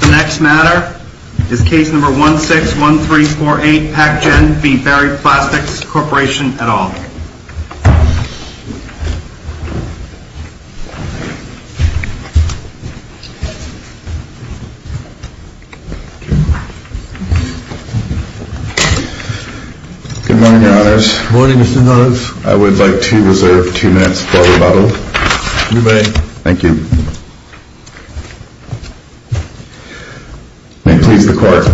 The next matter is case number 161348, Packgen v. Berry Plastics Corporation et al. Good morning, your honors. Good morning, Mr. Hodes. I would like to reserve two minutes for rebuttal. You may. Thank you. May it please the court.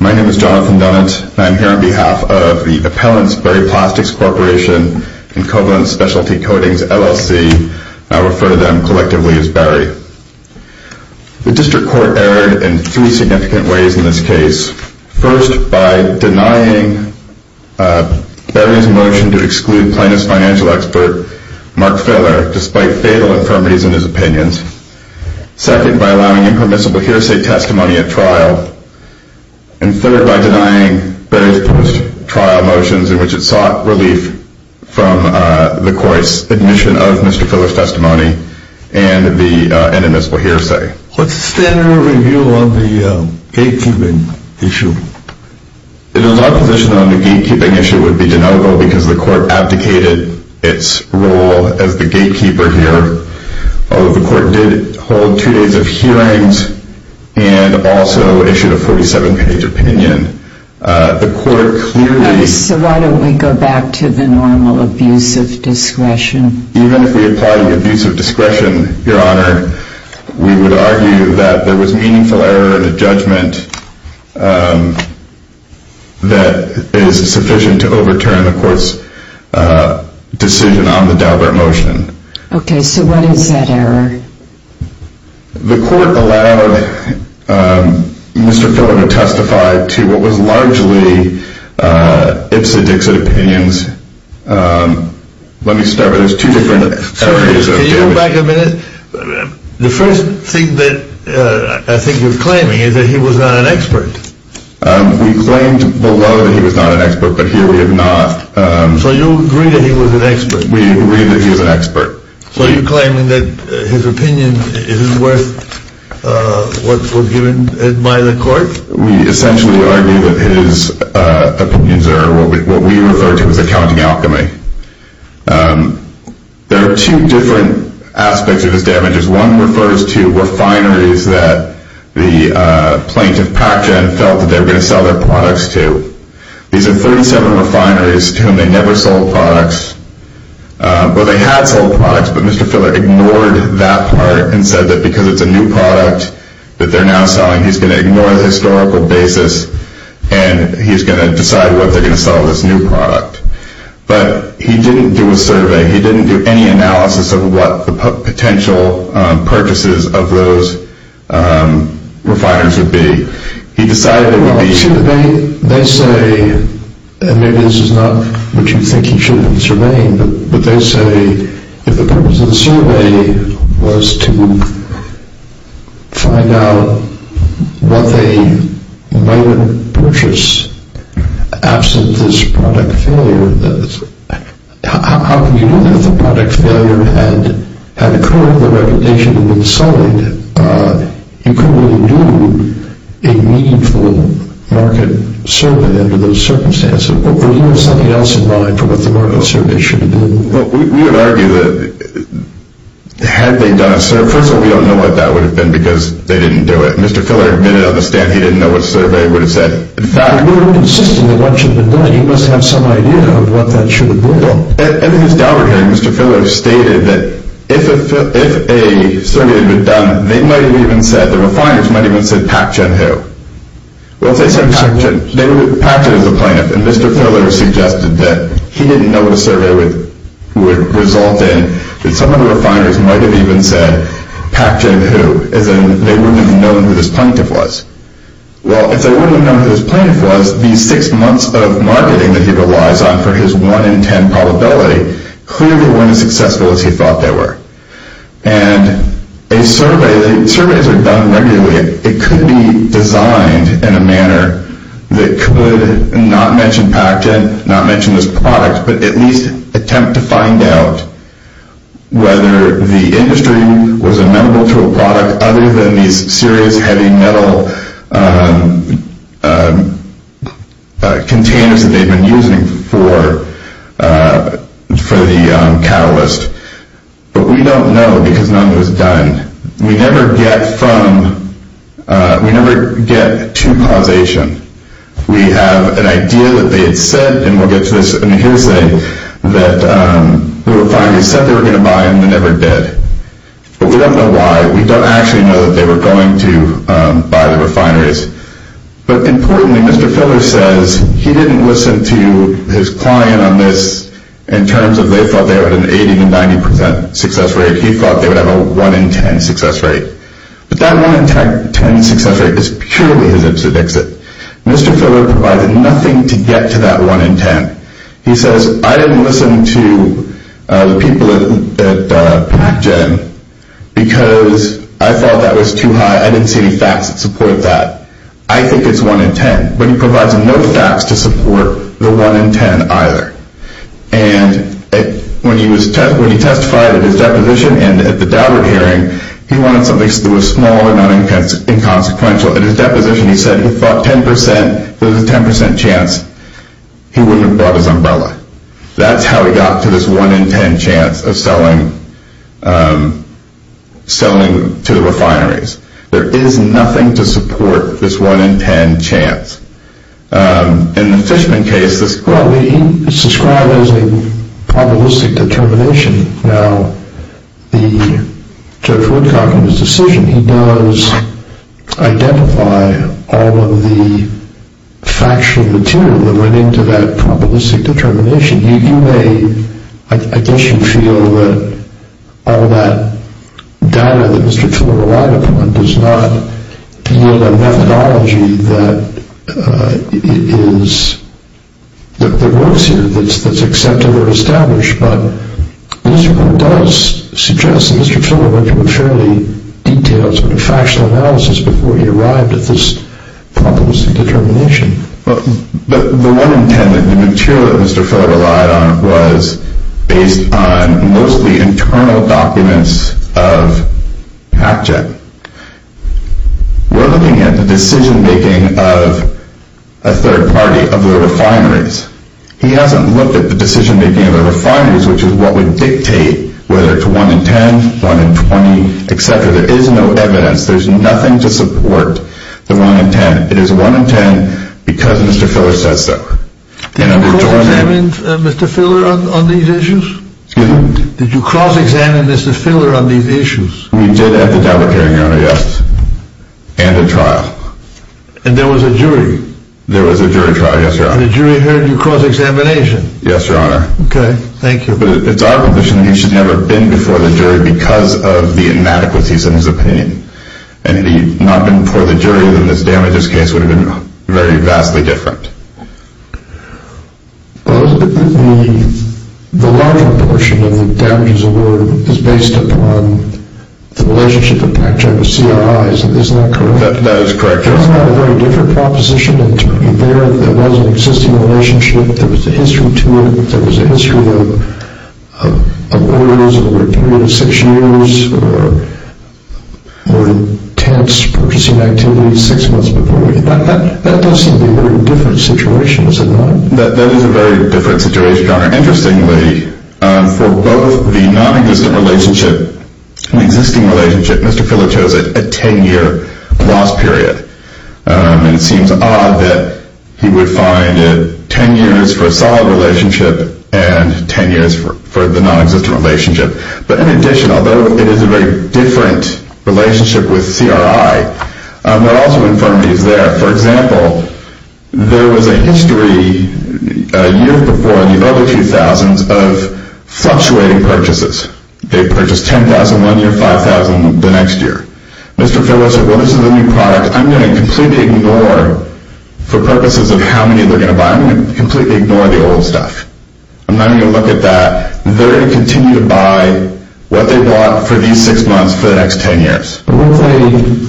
My name is Jonathan Dunant. I am here on behalf of the appellants, Berry Plastics Corporation and Covenant Specialty Coatings, LLC. I refer to them collectively as Berry. The district court erred in three significant ways in this case. First, by denying Berry's motion to exclude plaintiff's financial expert, Mark Feller, despite fatal infirmities in his opinions. Second, by allowing impermissible hearsay testimony at trial. And third, by denying Berry's post-trial motions in which it sought relief from the court's admission of Mr. Feller's testimony and an impermissible hearsay. What's the standard of review on the gatekeeping issue? The law position on the gatekeeping issue would be deniable because the court abdicated its role as the gatekeeper here. Although the court did hold two days of hearings and also issued a 47-page opinion, the court clearly So why don't we go back to the normal abuse of discretion? Even if we apply the abuse of discretion, Your Honor, we would argue that there was meaningful error in the judgment that is sufficient to overturn the court's decision on the Daubert motion. Okay, so what is that error? The court allowed Mr. Feller to testify to what was largely Ipsa Dixit opinions. Let me start with this. Can you go back a minute? The first thing that I think you're claiming is that he was not an expert. We claimed below that he was not an expert, but here we have not. So you agree that he was an expert? We agree that he was an expert. So you're claiming that his opinion isn't worth what was given by the court? We essentially argue that his opinions are what we refer to as accounting alchemy. There are two different aspects of his damages. One refers to refineries that the plaintiff, Pacjen, felt that they were going to sell their products to. These are 37 refineries to whom they never sold products. Well, they had sold products, but Mr. Feller ignored that part and said that because it's a new product that they're now selling, he's going to ignore the historical basis and he's going to decide whether they're going to sell this new product. But he didn't do a survey. He didn't do any analysis of what the potential purchases of those refiners would be. He decided it would be... Well, they say, and maybe this is not what you think he should have surveyed, but they say if the purpose of the survey was to find out what they might have purchased absent this product failure, how can you do that if the product failure had occurred, the reputation had been sullied? You couldn't really do a meaningful market survey under those circumstances. Do you have something else in mind for what the market survey should have been? Well, we would argue that had they done a survey... First of all, we don't know what that would have been because they didn't do it. Mr. Feller admitted on the stand he didn't know what survey he would have said. In fact... You're insisting that what should have been done. You must have some idea of what that should have been. Well, in his dowry hearing, Mr. Feller stated that if a survey had been done, they might have even said, the refiners might have even said, Pacjen who? Pacjen is the plaintiff. And Mr. Feller suggested that he didn't know what a survey would result in. Some of the refiners might have even said, Pacjen who? As in, they wouldn't have known who this plaintiff was. Well, if they wouldn't have known who this plaintiff was, these six months of marketing that he relies on for his one in ten probability clearly weren't as successful as he thought they were. And surveys are done regularly. It could be designed in a manner that could not mention Pacjen, not mention this product, but at least attempt to find out whether the industry was amenable to a product other than these serious heavy metal containers that they've been using for the catalyst. But we don't know because none of it was done. We never get from, we never get to causation. We have an idea that they had said, and we'll get to this in a hearsay, that the refineries said they were going to buy and they never did. But we don't know why. We don't actually know that they were going to buy the refineries. But importantly, Mr. Feller says he didn't listen to his client on this in terms of they thought they had an 80 to 90 percent success rate. He thought they would have a one in ten success rate. But that one in ten success rate is purely his ipsed exit. Mr. Feller provided nothing to get to that one in ten. He says, I didn't listen to the people at Pacjen because I thought that was too high. I didn't see any facts that support that. I think it's one in ten. But he provides no facts to support the one in ten either. And when he testified at his deposition and at the Dowdard hearing, he wanted something that was small and not inconsequential. At his deposition he said he thought 10 percent, there was a 10 percent chance he wouldn't have brought his umbrella. That's how he got to this one in ten chance of selling to the refineries. There is nothing to support this one in ten chance. In the Fishman case, it's described as a probabilistic determination. Now, the Judge Woodcock in his decision, he does identify all of the factual material that went into that probabilistic determination. You may, I guess you feel that all that data that Mr. Feller relied upon does not yield a methodology that works here, that's accepted or established. But Mr. Woodcock does suggest that Mr. Feller went into a fairly detailed, but a factual analysis before he arrived at this probabilistic determination. But the one in ten, the material that Mr. Feller relied on was based on mostly internal documents of Hatchet. We're looking at the decision-making of a third party of the refineries. He hasn't looked at the decision-making of the refineries, which is what would dictate whether it's one in ten, one in twenty, etc. There is no evidence, there's nothing to support the one in ten. It is one in ten because Mr. Feller says so. Did you cross-examine Mr. Feller on these issues? Excuse me? Did you cross-examine Mr. Feller on these issues? We did at the trial, Your Honor, yes, and at trial. And there was a jury? There was a jury trial, yes, Your Honor. And the jury heard you cross-examination? Yes, Your Honor. Okay, thank you. But it's our position that he should never have been before the jury because of the inadequacies in his opinion. And if he had not been before the jury, then this damages case would have been very vastly different. The larger portion of the damages award is based upon the relationship with Pac-Chai with CRI, isn't that correct? That is correct, Your Honor. Pac-Chai had a very different proposition. There was an existing relationship, there was a history to it, there was a history of orders over a period of six years. There were intense purchasing activities six months before. That does seem to be a very different situation, does it not? That is a very different situation, Your Honor. Interestingly, for both the nonexistent relationship and the existing relationship, Mr. Feller chose a 10-year loss period. And it seems odd that he would find it 10 years for a solid relationship and 10 years for the nonexistent relationship. But in addition, although it is a very different relationship with CRI, there are also infirmities there. For example, there was a history a year before in the early 2000s of fluctuating purchases. They purchased $10,000 one year, $5,000 the next year. Mr. Feller said, well, this is a new product. I'm going to completely ignore, for purposes of how many they're going to buy, I'm going to completely ignore the old stuff. I'm not going to look at that. They're going to continue to buy what they bought for these six months for the next 10 years. Well,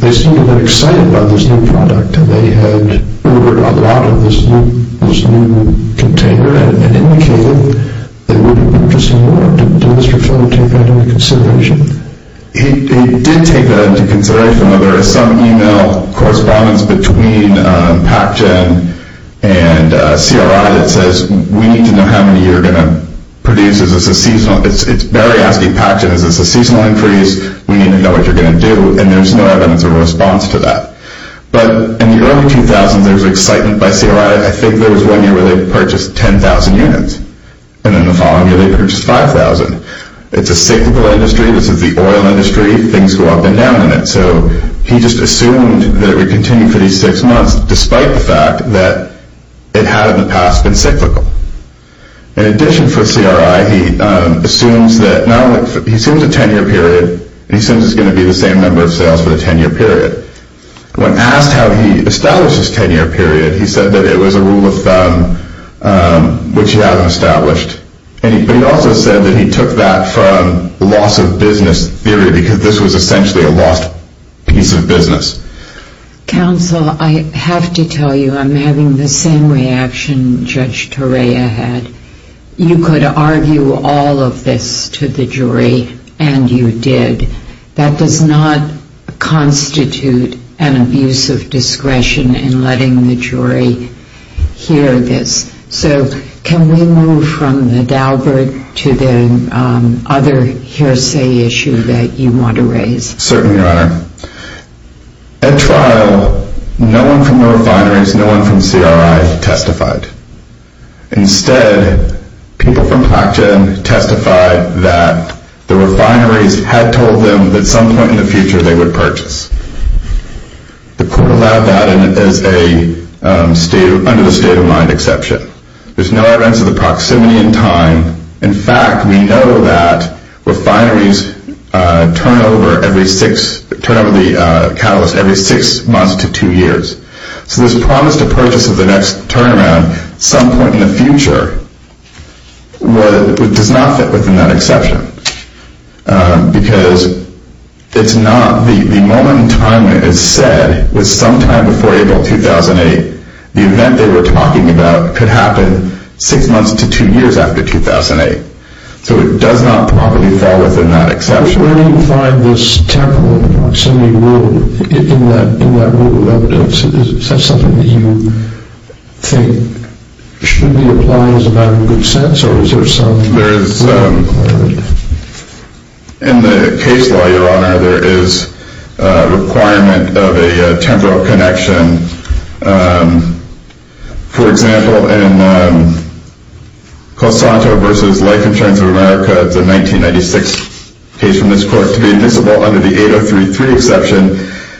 they seem to have been excited about this new product. They had ordered a lot of this new container and indicated they would have been interested more. Did Mr. Feller take that into consideration? He did take that into consideration. There is some email correspondence between PacGen and CRI that says, we need to know how many you're going to produce. It's very asking PacGen, is this a seasonal increase? We need to know what you're going to do. And there's no evidence of response to that. But in the early 2000s, there was excitement by CRI. I think there was one year where they purchased 10,000 units, and then the following year they purchased 5,000. It's a cyclical industry. This is the oil industry. Things go up and down in it. So he just assumed that it would continue for these six months, despite the fact that it had in the past been cyclical. In addition for CRI, he assumes a 10-year period. He assumes it's going to be the same number of sales for the 10-year period. When asked how he established this 10-year period, he said that it was a rule of thumb, which he hadn't established. But he also said that he took that from the loss of business theory because this was essentially a lost piece of business. Counsel, I have to tell you I'm having the same reaction Judge Torea had. You could argue all of this to the jury, and you did. That does not constitute an abuse of discretion in letting the jury hear this. So can we move from the Daubert to the other hearsay issue that you want to raise? Certainly, Your Honor. At trial, no one from the refineries, no one from CRI testified. Instead, people from PacGen testified that the refineries had told them that at some point in the future they would purchase. The court allowed that under the state-of-mind exception. There's no evidence of the proximity in time. In fact, we know that refineries turn over the catalyst every six months to two years. So this promise to purchase at the next turnaround at some point in the future does not fit within that exception. Because the moment in time it is said was sometime before April 2008, the event they were talking about could happen six months to two years after 2008. So it does not probably fall within that exception. Where do you find this temporal proximity rule in that rule of evidence? Is that something that you think should be applied as a matter of good sense, or is there some requirement? In the case law, Your Honor, there is a requirement of a temporal connection. For example, in Cosanto v. Life Insurance of America, the 1996 case from this court, to be admissible under the 8033 exception,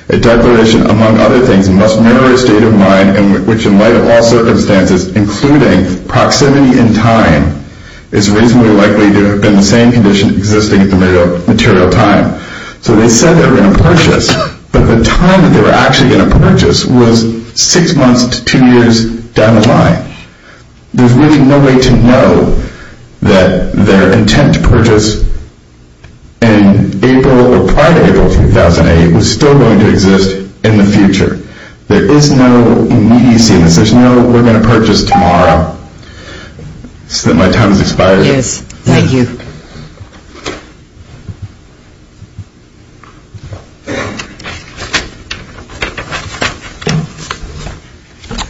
a declaration, among other things, must mirror a state of mind in which, in light of all circumstances, including proximity in time, is reasonably likely to have been the same condition existing at the material time. So they said they were going to purchase, but the time that they were actually going to purchase was six months to two years down the line. There's really no way to know that their intent to purchase prior to April 2008 was still going to exist in the future. There is no immediacy in this. There's no, we're going to purchase tomorrow. So my time has expired. Yes, thank you. Good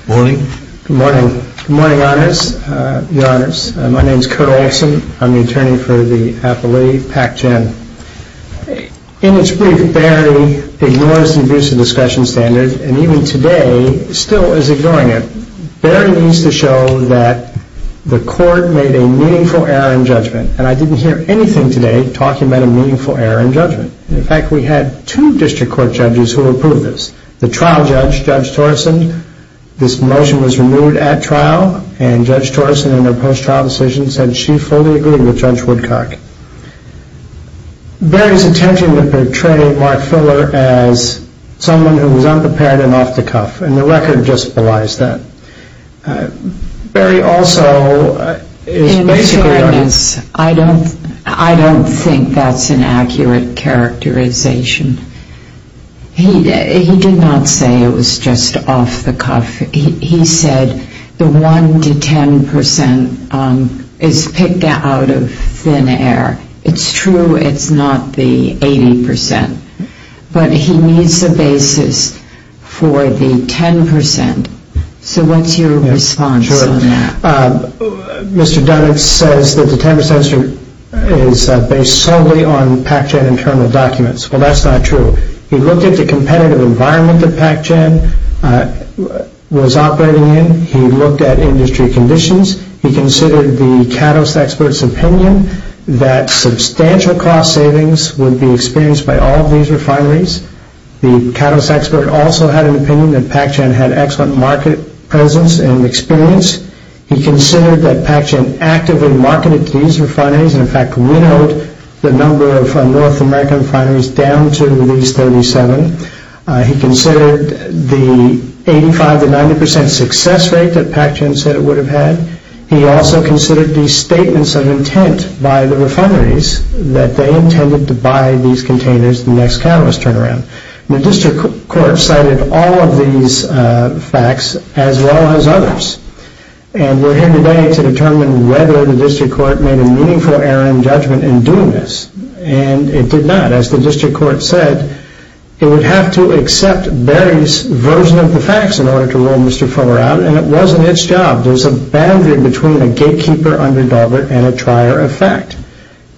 morning. Good morning. Good morning, Your Honors. My name is Kurt Olson. I'm the attorney for the appellee, Pat Jen. In its brief, Barry ignores the abusive discussion standard, and even today still is ignoring it. Barry needs to show that the court made a meaningful error in judgment, and I didn't hear anything today talking about a meaningful error in judgment. In fact, we had two district court judges who approved this. The trial judge, Judge Torrison, this motion was removed at trial, and Judge Torrison, in her post-trial decision, said she fully agreed with Judge Woodcock. Barry's intention was to portray Mark Filler as someone who was unprepared and off the cuff, and the record just belies that. Barry also is basically a... In fairness, I don't think that's an accurate characterization. He did not say it was just off the cuff. He said the 1 to 10 percent is picked out of thin air. It's true it's not the 80 percent, but he needs a basis for the 10 percent. So what's your response on that? Sure. Mr. Dunn says that the 10 percent is based solely on Pac-Gen internal documents. Well, that's not true. He looked at the competitive environment that Pac-Gen was operating in. He looked at industry conditions. He considered the CADOS expert's opinion that substantial cost savings would be experienced by all of these refineries. The CADOS expert also had an opinion that Pac-Gen had excellent market presence and experience. He considered that Pac-Gen actively marketed to these refineries, and in fact winnowed the number of North American refineries down to these 37. He considered the 85 to 90 percent success rate that Pac-Gen said it would have had. He also considered the statements of intent by the refineries that they intended to buy these containers the next CADOS turnaround. The district court cited all of these facts as well as others, and we're here today to determine whether the district court made a meaningful error in judgment in doing this. And it did not. As the district court said, it would have to accept Barry's version of the facts in order to rule Mr. Fuller out, and it wasn't its job. There's a boundary between a gatekeeper under Daubert and a trier of fact.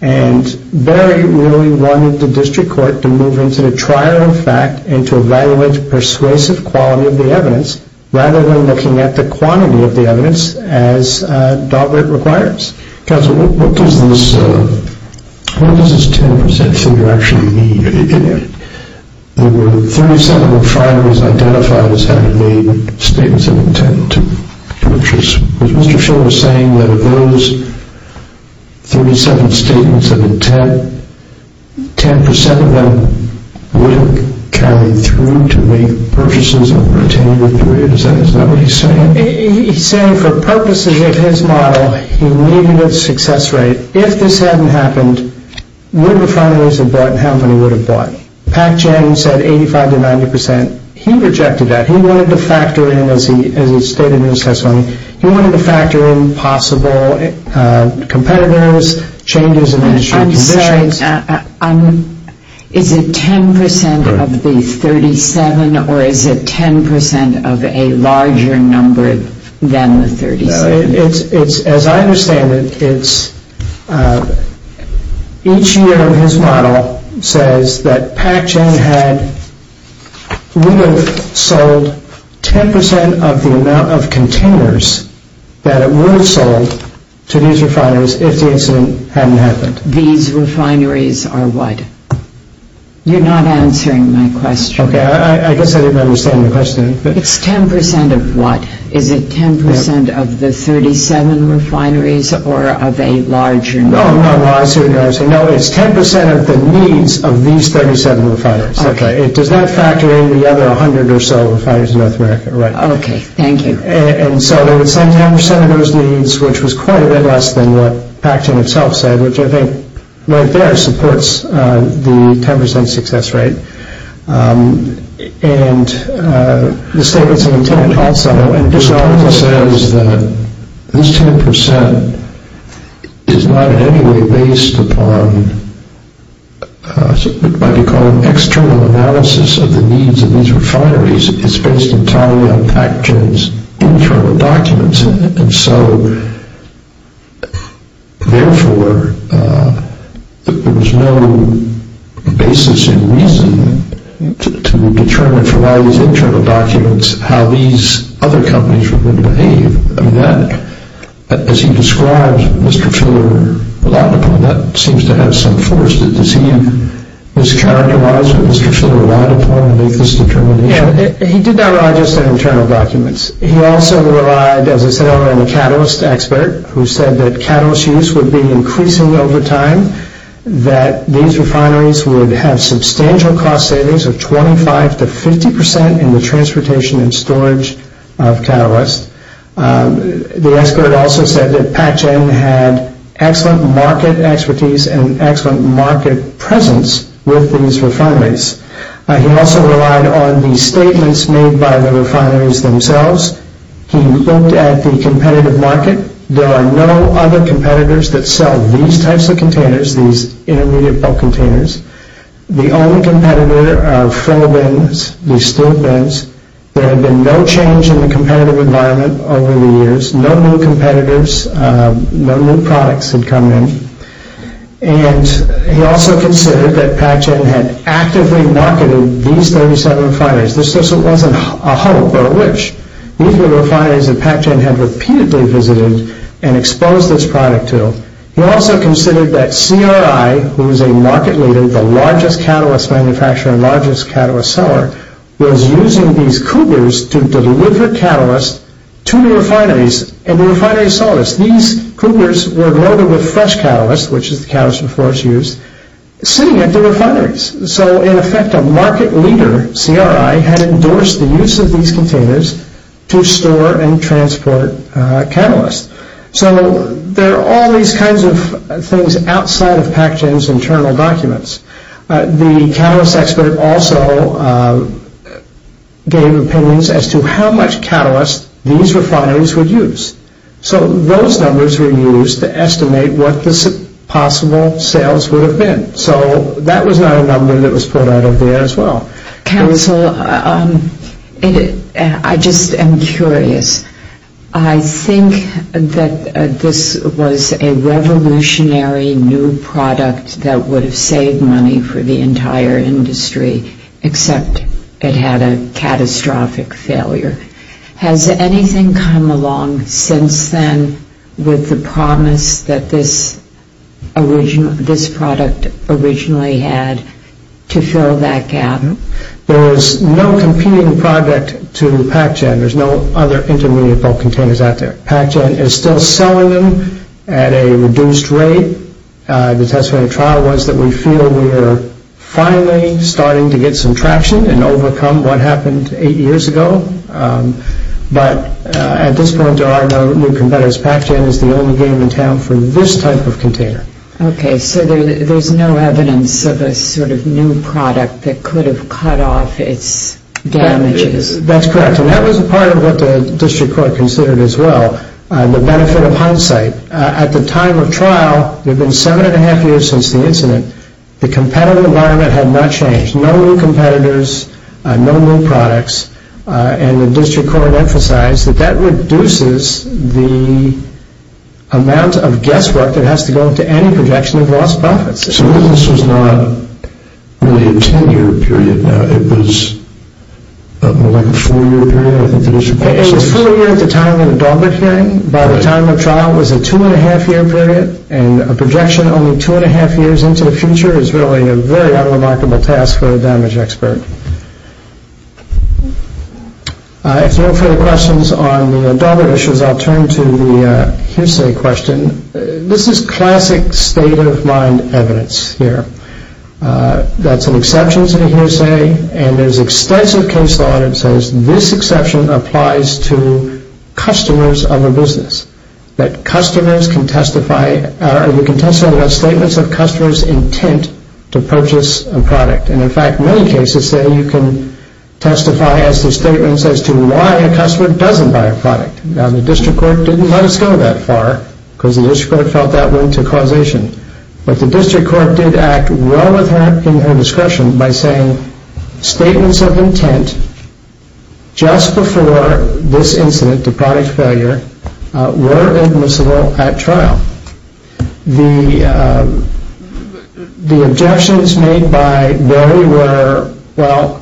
And Barry really wanted the district court to move into the trier of fact and to evaluate persuasive quality of the evidence rather than looking at the quantity of the evidence as Daubert requires. Counsel, what does this 10 percent figure actually mean? There were 37 refineries identified as having made statements of intent, which Mr. Fuller was saying that of those 37 statements of intent, 10 percent of them would have carried through to make purchases of container 3. Is that what he's saying? He's saying for purposes of his model, he needed a success rate. If this hadn't happened, where would the refineries have bought and how many would have bought? Pac-Gen said 85 to 90 percent. He rejected that. He wanted to factor in, as he stated in his testimony, he wanted to factor in possible competitors, changes in industry conditions. I'm sorry, is it 10 percent of the 37 or is it 10 percent of a larger number than the 37? As I understand it, each year his model says that Pac-Gen would have sold 10 percent of the amount of containers that it would have sold to these refineries if the incident hadn't happened. These refineries are what? You're not answering my question. Okay, I guess I didn't understand your question. It's 10 percent of what? Is it 10 percent of the 37 refineries or of a larger number? No, it's 10 percent of the needs of these 37 refineries. Does that factor in the other 100 or so refineries in North America? Okay, thank you. And so they would sell 10 percent of those needs, which was quite a bit less than what Pac-Gen himself said, which I think right there supports the 10 percent success rate. And the statements of intent also. It says that this 10 percent is not in any way based upon what might be called an external analysis of the needs of these refineries. It's based entirely on Pac-Gen's internal documents. And so, therefore, there was no basis in reason to determine from all these internal documents how these other companies were going to behave. As he describes what Mr. Filler relied upon, that seems to have some force. Does he mischaracterize what Mr. Filler relied upon to make this determination? He did not rely just on internal documents. He also relied, as I said earlier, on the catalyst expert, who said that catalyst use would be increasing over time, that these refineries would have substantial cost savings of 25 to 50 percent in the transportation and storage of catalysts. The expert also said that Pac-Gen had excellent market expertise and excellent market presence with these refineries. He also relied on the statements made by the refineries themselves. He looked at the competitive market. There are no other competitors that sell these types of containers, these intermediate bulk containers. The only competitor are full bins, these steel bins. There had been no change in the competitive environment over the years. No new competitors, no new products had come in. He also considered that Pac-Gen had actively marketed these 37 refineries. This wasn't a hope or a wish. These were refineries that Pac-Gen had repeatedly visited and exposed its product to. He also considered that CRI, who was a market leader, the largest catalyst manufacturer and largest catalyst seller, was using these cougars to deliver catalysts to the refineries and the refineries saw this. These cougars were loaded with fresh catalysts, which is the catalyst before it's used, sitting at the refineries. In effect, a market leader, CRI, had endorsed the use of these containers to store and transport catalysts. There are all these kinds of things outside of Pac-Gen's internal documents. The catalyst expert also gave opinions as to how much catalyst these refineries would use. So those numbers were used to estimate what the possible sales would have been. So that was not a number that was pulled out of there as well. Council, I just am curious. I think that this was a revolutionary new product that would have saved money for the entire industry, except it had a catastrophic failure. Has anything come along since then with the promise that this product originally had to fill that gap? There is no competing product to Pac-Gen. There's no other intermediate bulk containers out there. Pac-Gen is still selling them at a reduced rate. The test for the trial was that we feel we are finally starting to get some traction and overcome what happened eight years ago. But at this point, there are no new competitors. Pac-Gen is the only game in town for this type of container. Okay, so there's no evidence of a sort of new product that could have cut off its damages. That's correct. And that was a part of what the district court considered as well, the benefit of hindsight. At the time of trial, it had been seven and a half years since the incident. The competitive environment had not changed. No new competitors. No new products. And the district court emphasized that that reduces the amount of guesswork that has to go into any projection of lost profits. So this was not really a ten-year period. It was more like a four-year period, I think the district court says. It was four years at the time of the Dalbert hearing. By the time of trial, it was a two and a half year period. And a projection only two and a half years into the future is really a very unremarkable task for a damage expert. If there are no further questions on the Dalbert issues, I'll turn to the hearsay question. This is classic state-of-mind evidence here. That's an exception to the hearsay. And there's extensive case law that says this exception applies to customers of a business, that customers can testify or you can testify about statements of customers' intent to purchase a product. And, in fact, many cases say you can testify as to statements as to why a customer doesn't buy a product. Now, the district court didn't let us go that far because the district court felt that went to causation. But the district court did act well in her discretion by saying statements of intent just before this incident, the product failure, were admissible at trial. The objections made by Barry were, well,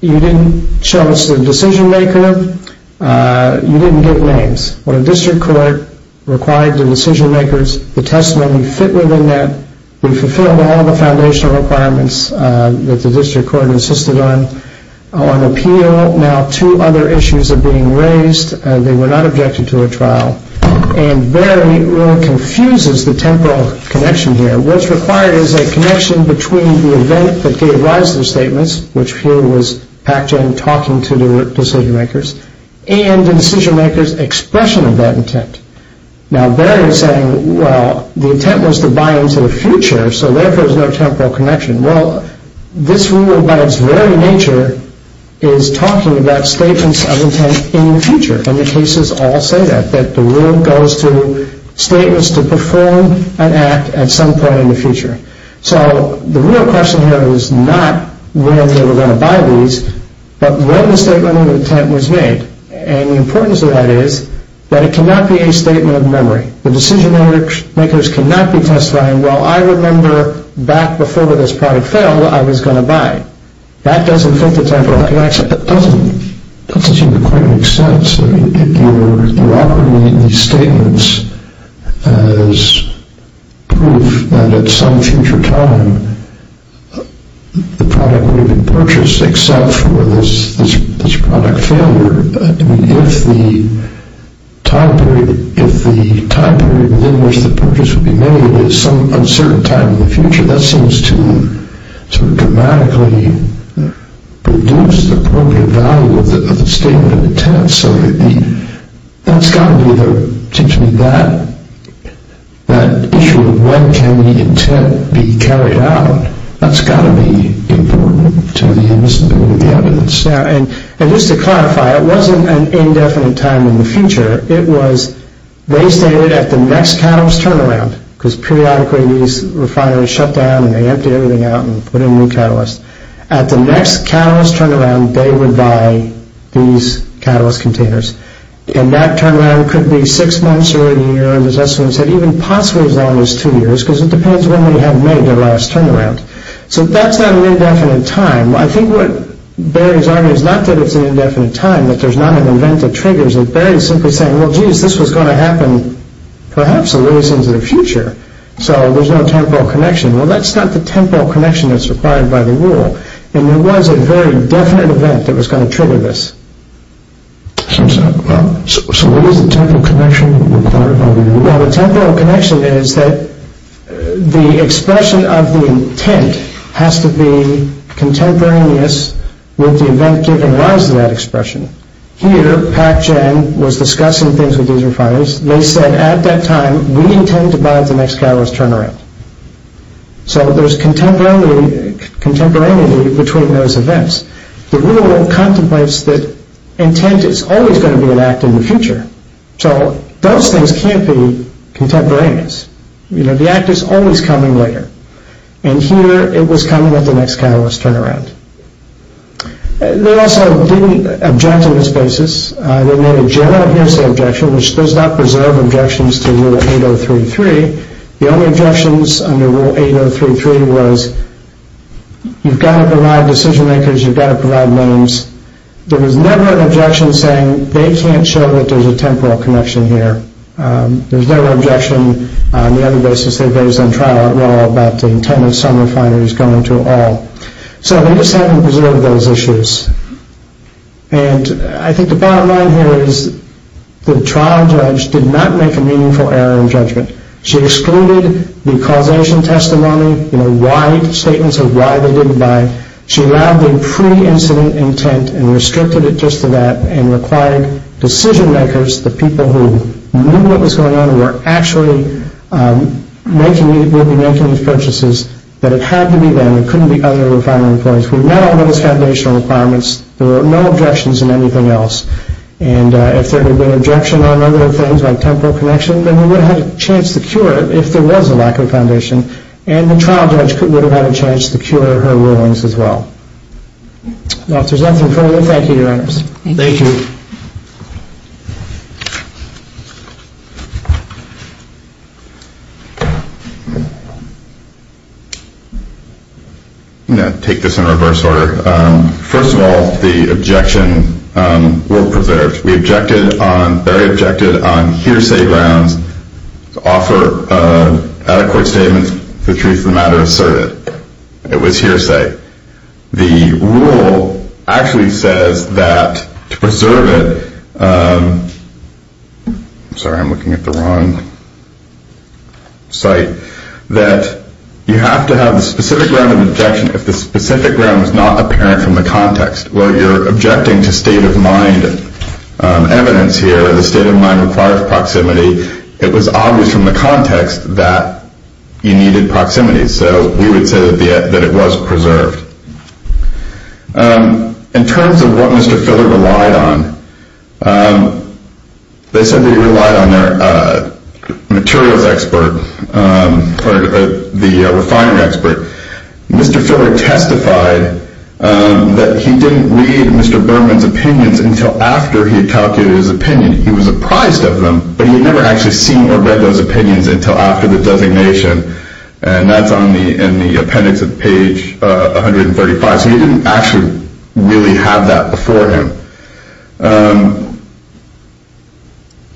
you didn't show us the decision maker. You didn't give names. But a district court required the decision makers, the testimony fit within that. We fulfilled all the foundational requirements that the district court insisted on. On appeal, now two other issues are being raised. They were not objected to at trial. And Barry really confuses the temporal connection here. What's required is a connection between the event that gave rise to the statements, which here was Pac-Gen talking to the decision makers, and the decision makers' expression of that intent. Now, Barry is saying, well, the intent was to buy into the future, so therefore there's no temporal connection. Well, this rule by its very nature is talking about statements of intent in the future. And the cases all say that, that the rule goes to statements to perform an act at some point in the future. So the real question here is not when they were going to buy these, but when the statement of intent was made. And the importance of that is that it cannot be a statement of memory. The decision makers cannot be testifying, well, I remember back before this product failed, I was going to buy. That doesn't fit the temporal connection. That doesn't seem to quite make sense. You're offering me these statements as proof that at some future time, the product would have been purchased, except for this product failure. If the time period within which the purchase would be made is some uncertain time in the future, that seems to dramatically reduce the appropriate value of the statement of intent. So that's got to be, it seems to me, that issue of when can the intent be carried out, that's got to be important to the invisibility of the evidence. And just to clarify, it wasn't an indefinite time in the future. It was, they stated at the next catalyst turnaround, because periodically these refineries shut down and they emptied everything out and put in new catalysts. At the next catalyst turnaround, they would buy these catalyst containers. And that turnaround could be six months or a year, and as Esselman said, even possibly as long as two years, because it depends when they had made their last turnaround. So that's not an indefinite time. I think what Barry's argument is not that it's an indefinite time, that there's not an event that triggers it. Barry's simply saying, well, geez, this was going to happen perhaps a ways into the future, so there's no temporal connection. Well, that's not the temporal connection that's required by the rule. And there was a very definite event that was going to trigger this. So what is the temporal connection? Well, the temporal connection is that the expression of the intent has to be contemporaneous with the event giving rise to that expression. Here, Pac-Chen was discussing things with these refineries. They said at that time, we intend to buy the next catalyst turnaround. So there's contemporaneity between those events. The rule contemplates that intent is always going to be an act in the future. So those things can't be contemporaneous. The act is always coming later. And here it was coming at the next catalyst turnaround. They also didn't object on this basis. They made a general hearsay objection, which does not preserve objections to Rule 8033. The only objections under Rule 8033 was you've got to provide decision makers, you've got to provide names. There was never an objection saying they can't show that there's a temporal connection here. There was never an objection on the other basis they raised on trial at law about the intent of some refineries going to all. So they just haven't preserved those issues. And I think the bottom line here is the trial judge did not make a meaningful error in judgment. She excluded the causation testimony, statements of why they did the buy. She allowed the pre-incident intent and restricted it just to that and required decision makers, the people who knew what was going on and were actually making these purchases, that it had to be them. It couldn't be other refinery employees. We met all those foundational requirements. There were no objections in anything else. And if there had been an objection on other things like temporal connection, then we would have had a chance to cure it if there was a lack of foundation. And the trial judge would have had a chance to cure her rulings as well. Now if there's nothing further, thank you, Your Honors. Thank you. I'm going to take this in reverse order. First of all, the objection were preserved. We objected on hearsay grounds to offer adequate statements for the truth of the matter asserted. It was hearsay. The rule actually says that to preserve it, sorry, I'm looking at the wrong site, that you have to have a specific round of objection if the specific round is not apparent from the context where you're objecting to state of mind evidence here. The state of mind requires proximity. It was obvious from the context that you needed proximity. So we would say that it was preserved. In terms of what Mr. Filler relied on, they said they relied on their materials expert, or the refinery expert. Mr. Filler testified that he didn't read Mr. Berman's opinions until after he had calculated his opinion. He was apprised of them, but he had never actually seen or read those opinions until after the designation, and that's in the appendix of page 135. So he didn't actually really have that before him.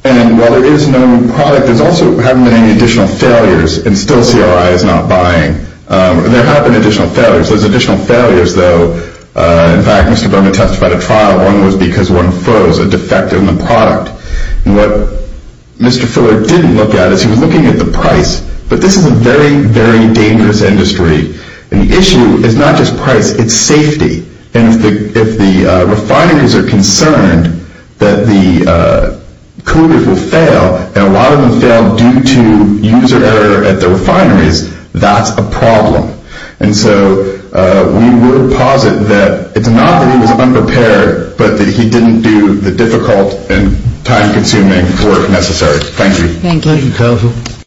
And while there is no product, there's also haven't been any additional failures, and still CRI is not buying. There have been additional failures. Those additional failures, though, in fact, Mr. Berman testified at trial, one was because one froze a defect in the product. And what Mr. Filler didn't look at is he was looking at the price. But this is a very, very dangerous industry, and the issue is not just price, it's safety. And if the refineries are concerned that the colluders will fail, and a lot of them fail due to user error at the refineries, that's a problem. And so we would posit that it's not that he was unprepared, but that he didn't do the difficult and time-consuming work necessary. Thank you. Thank you.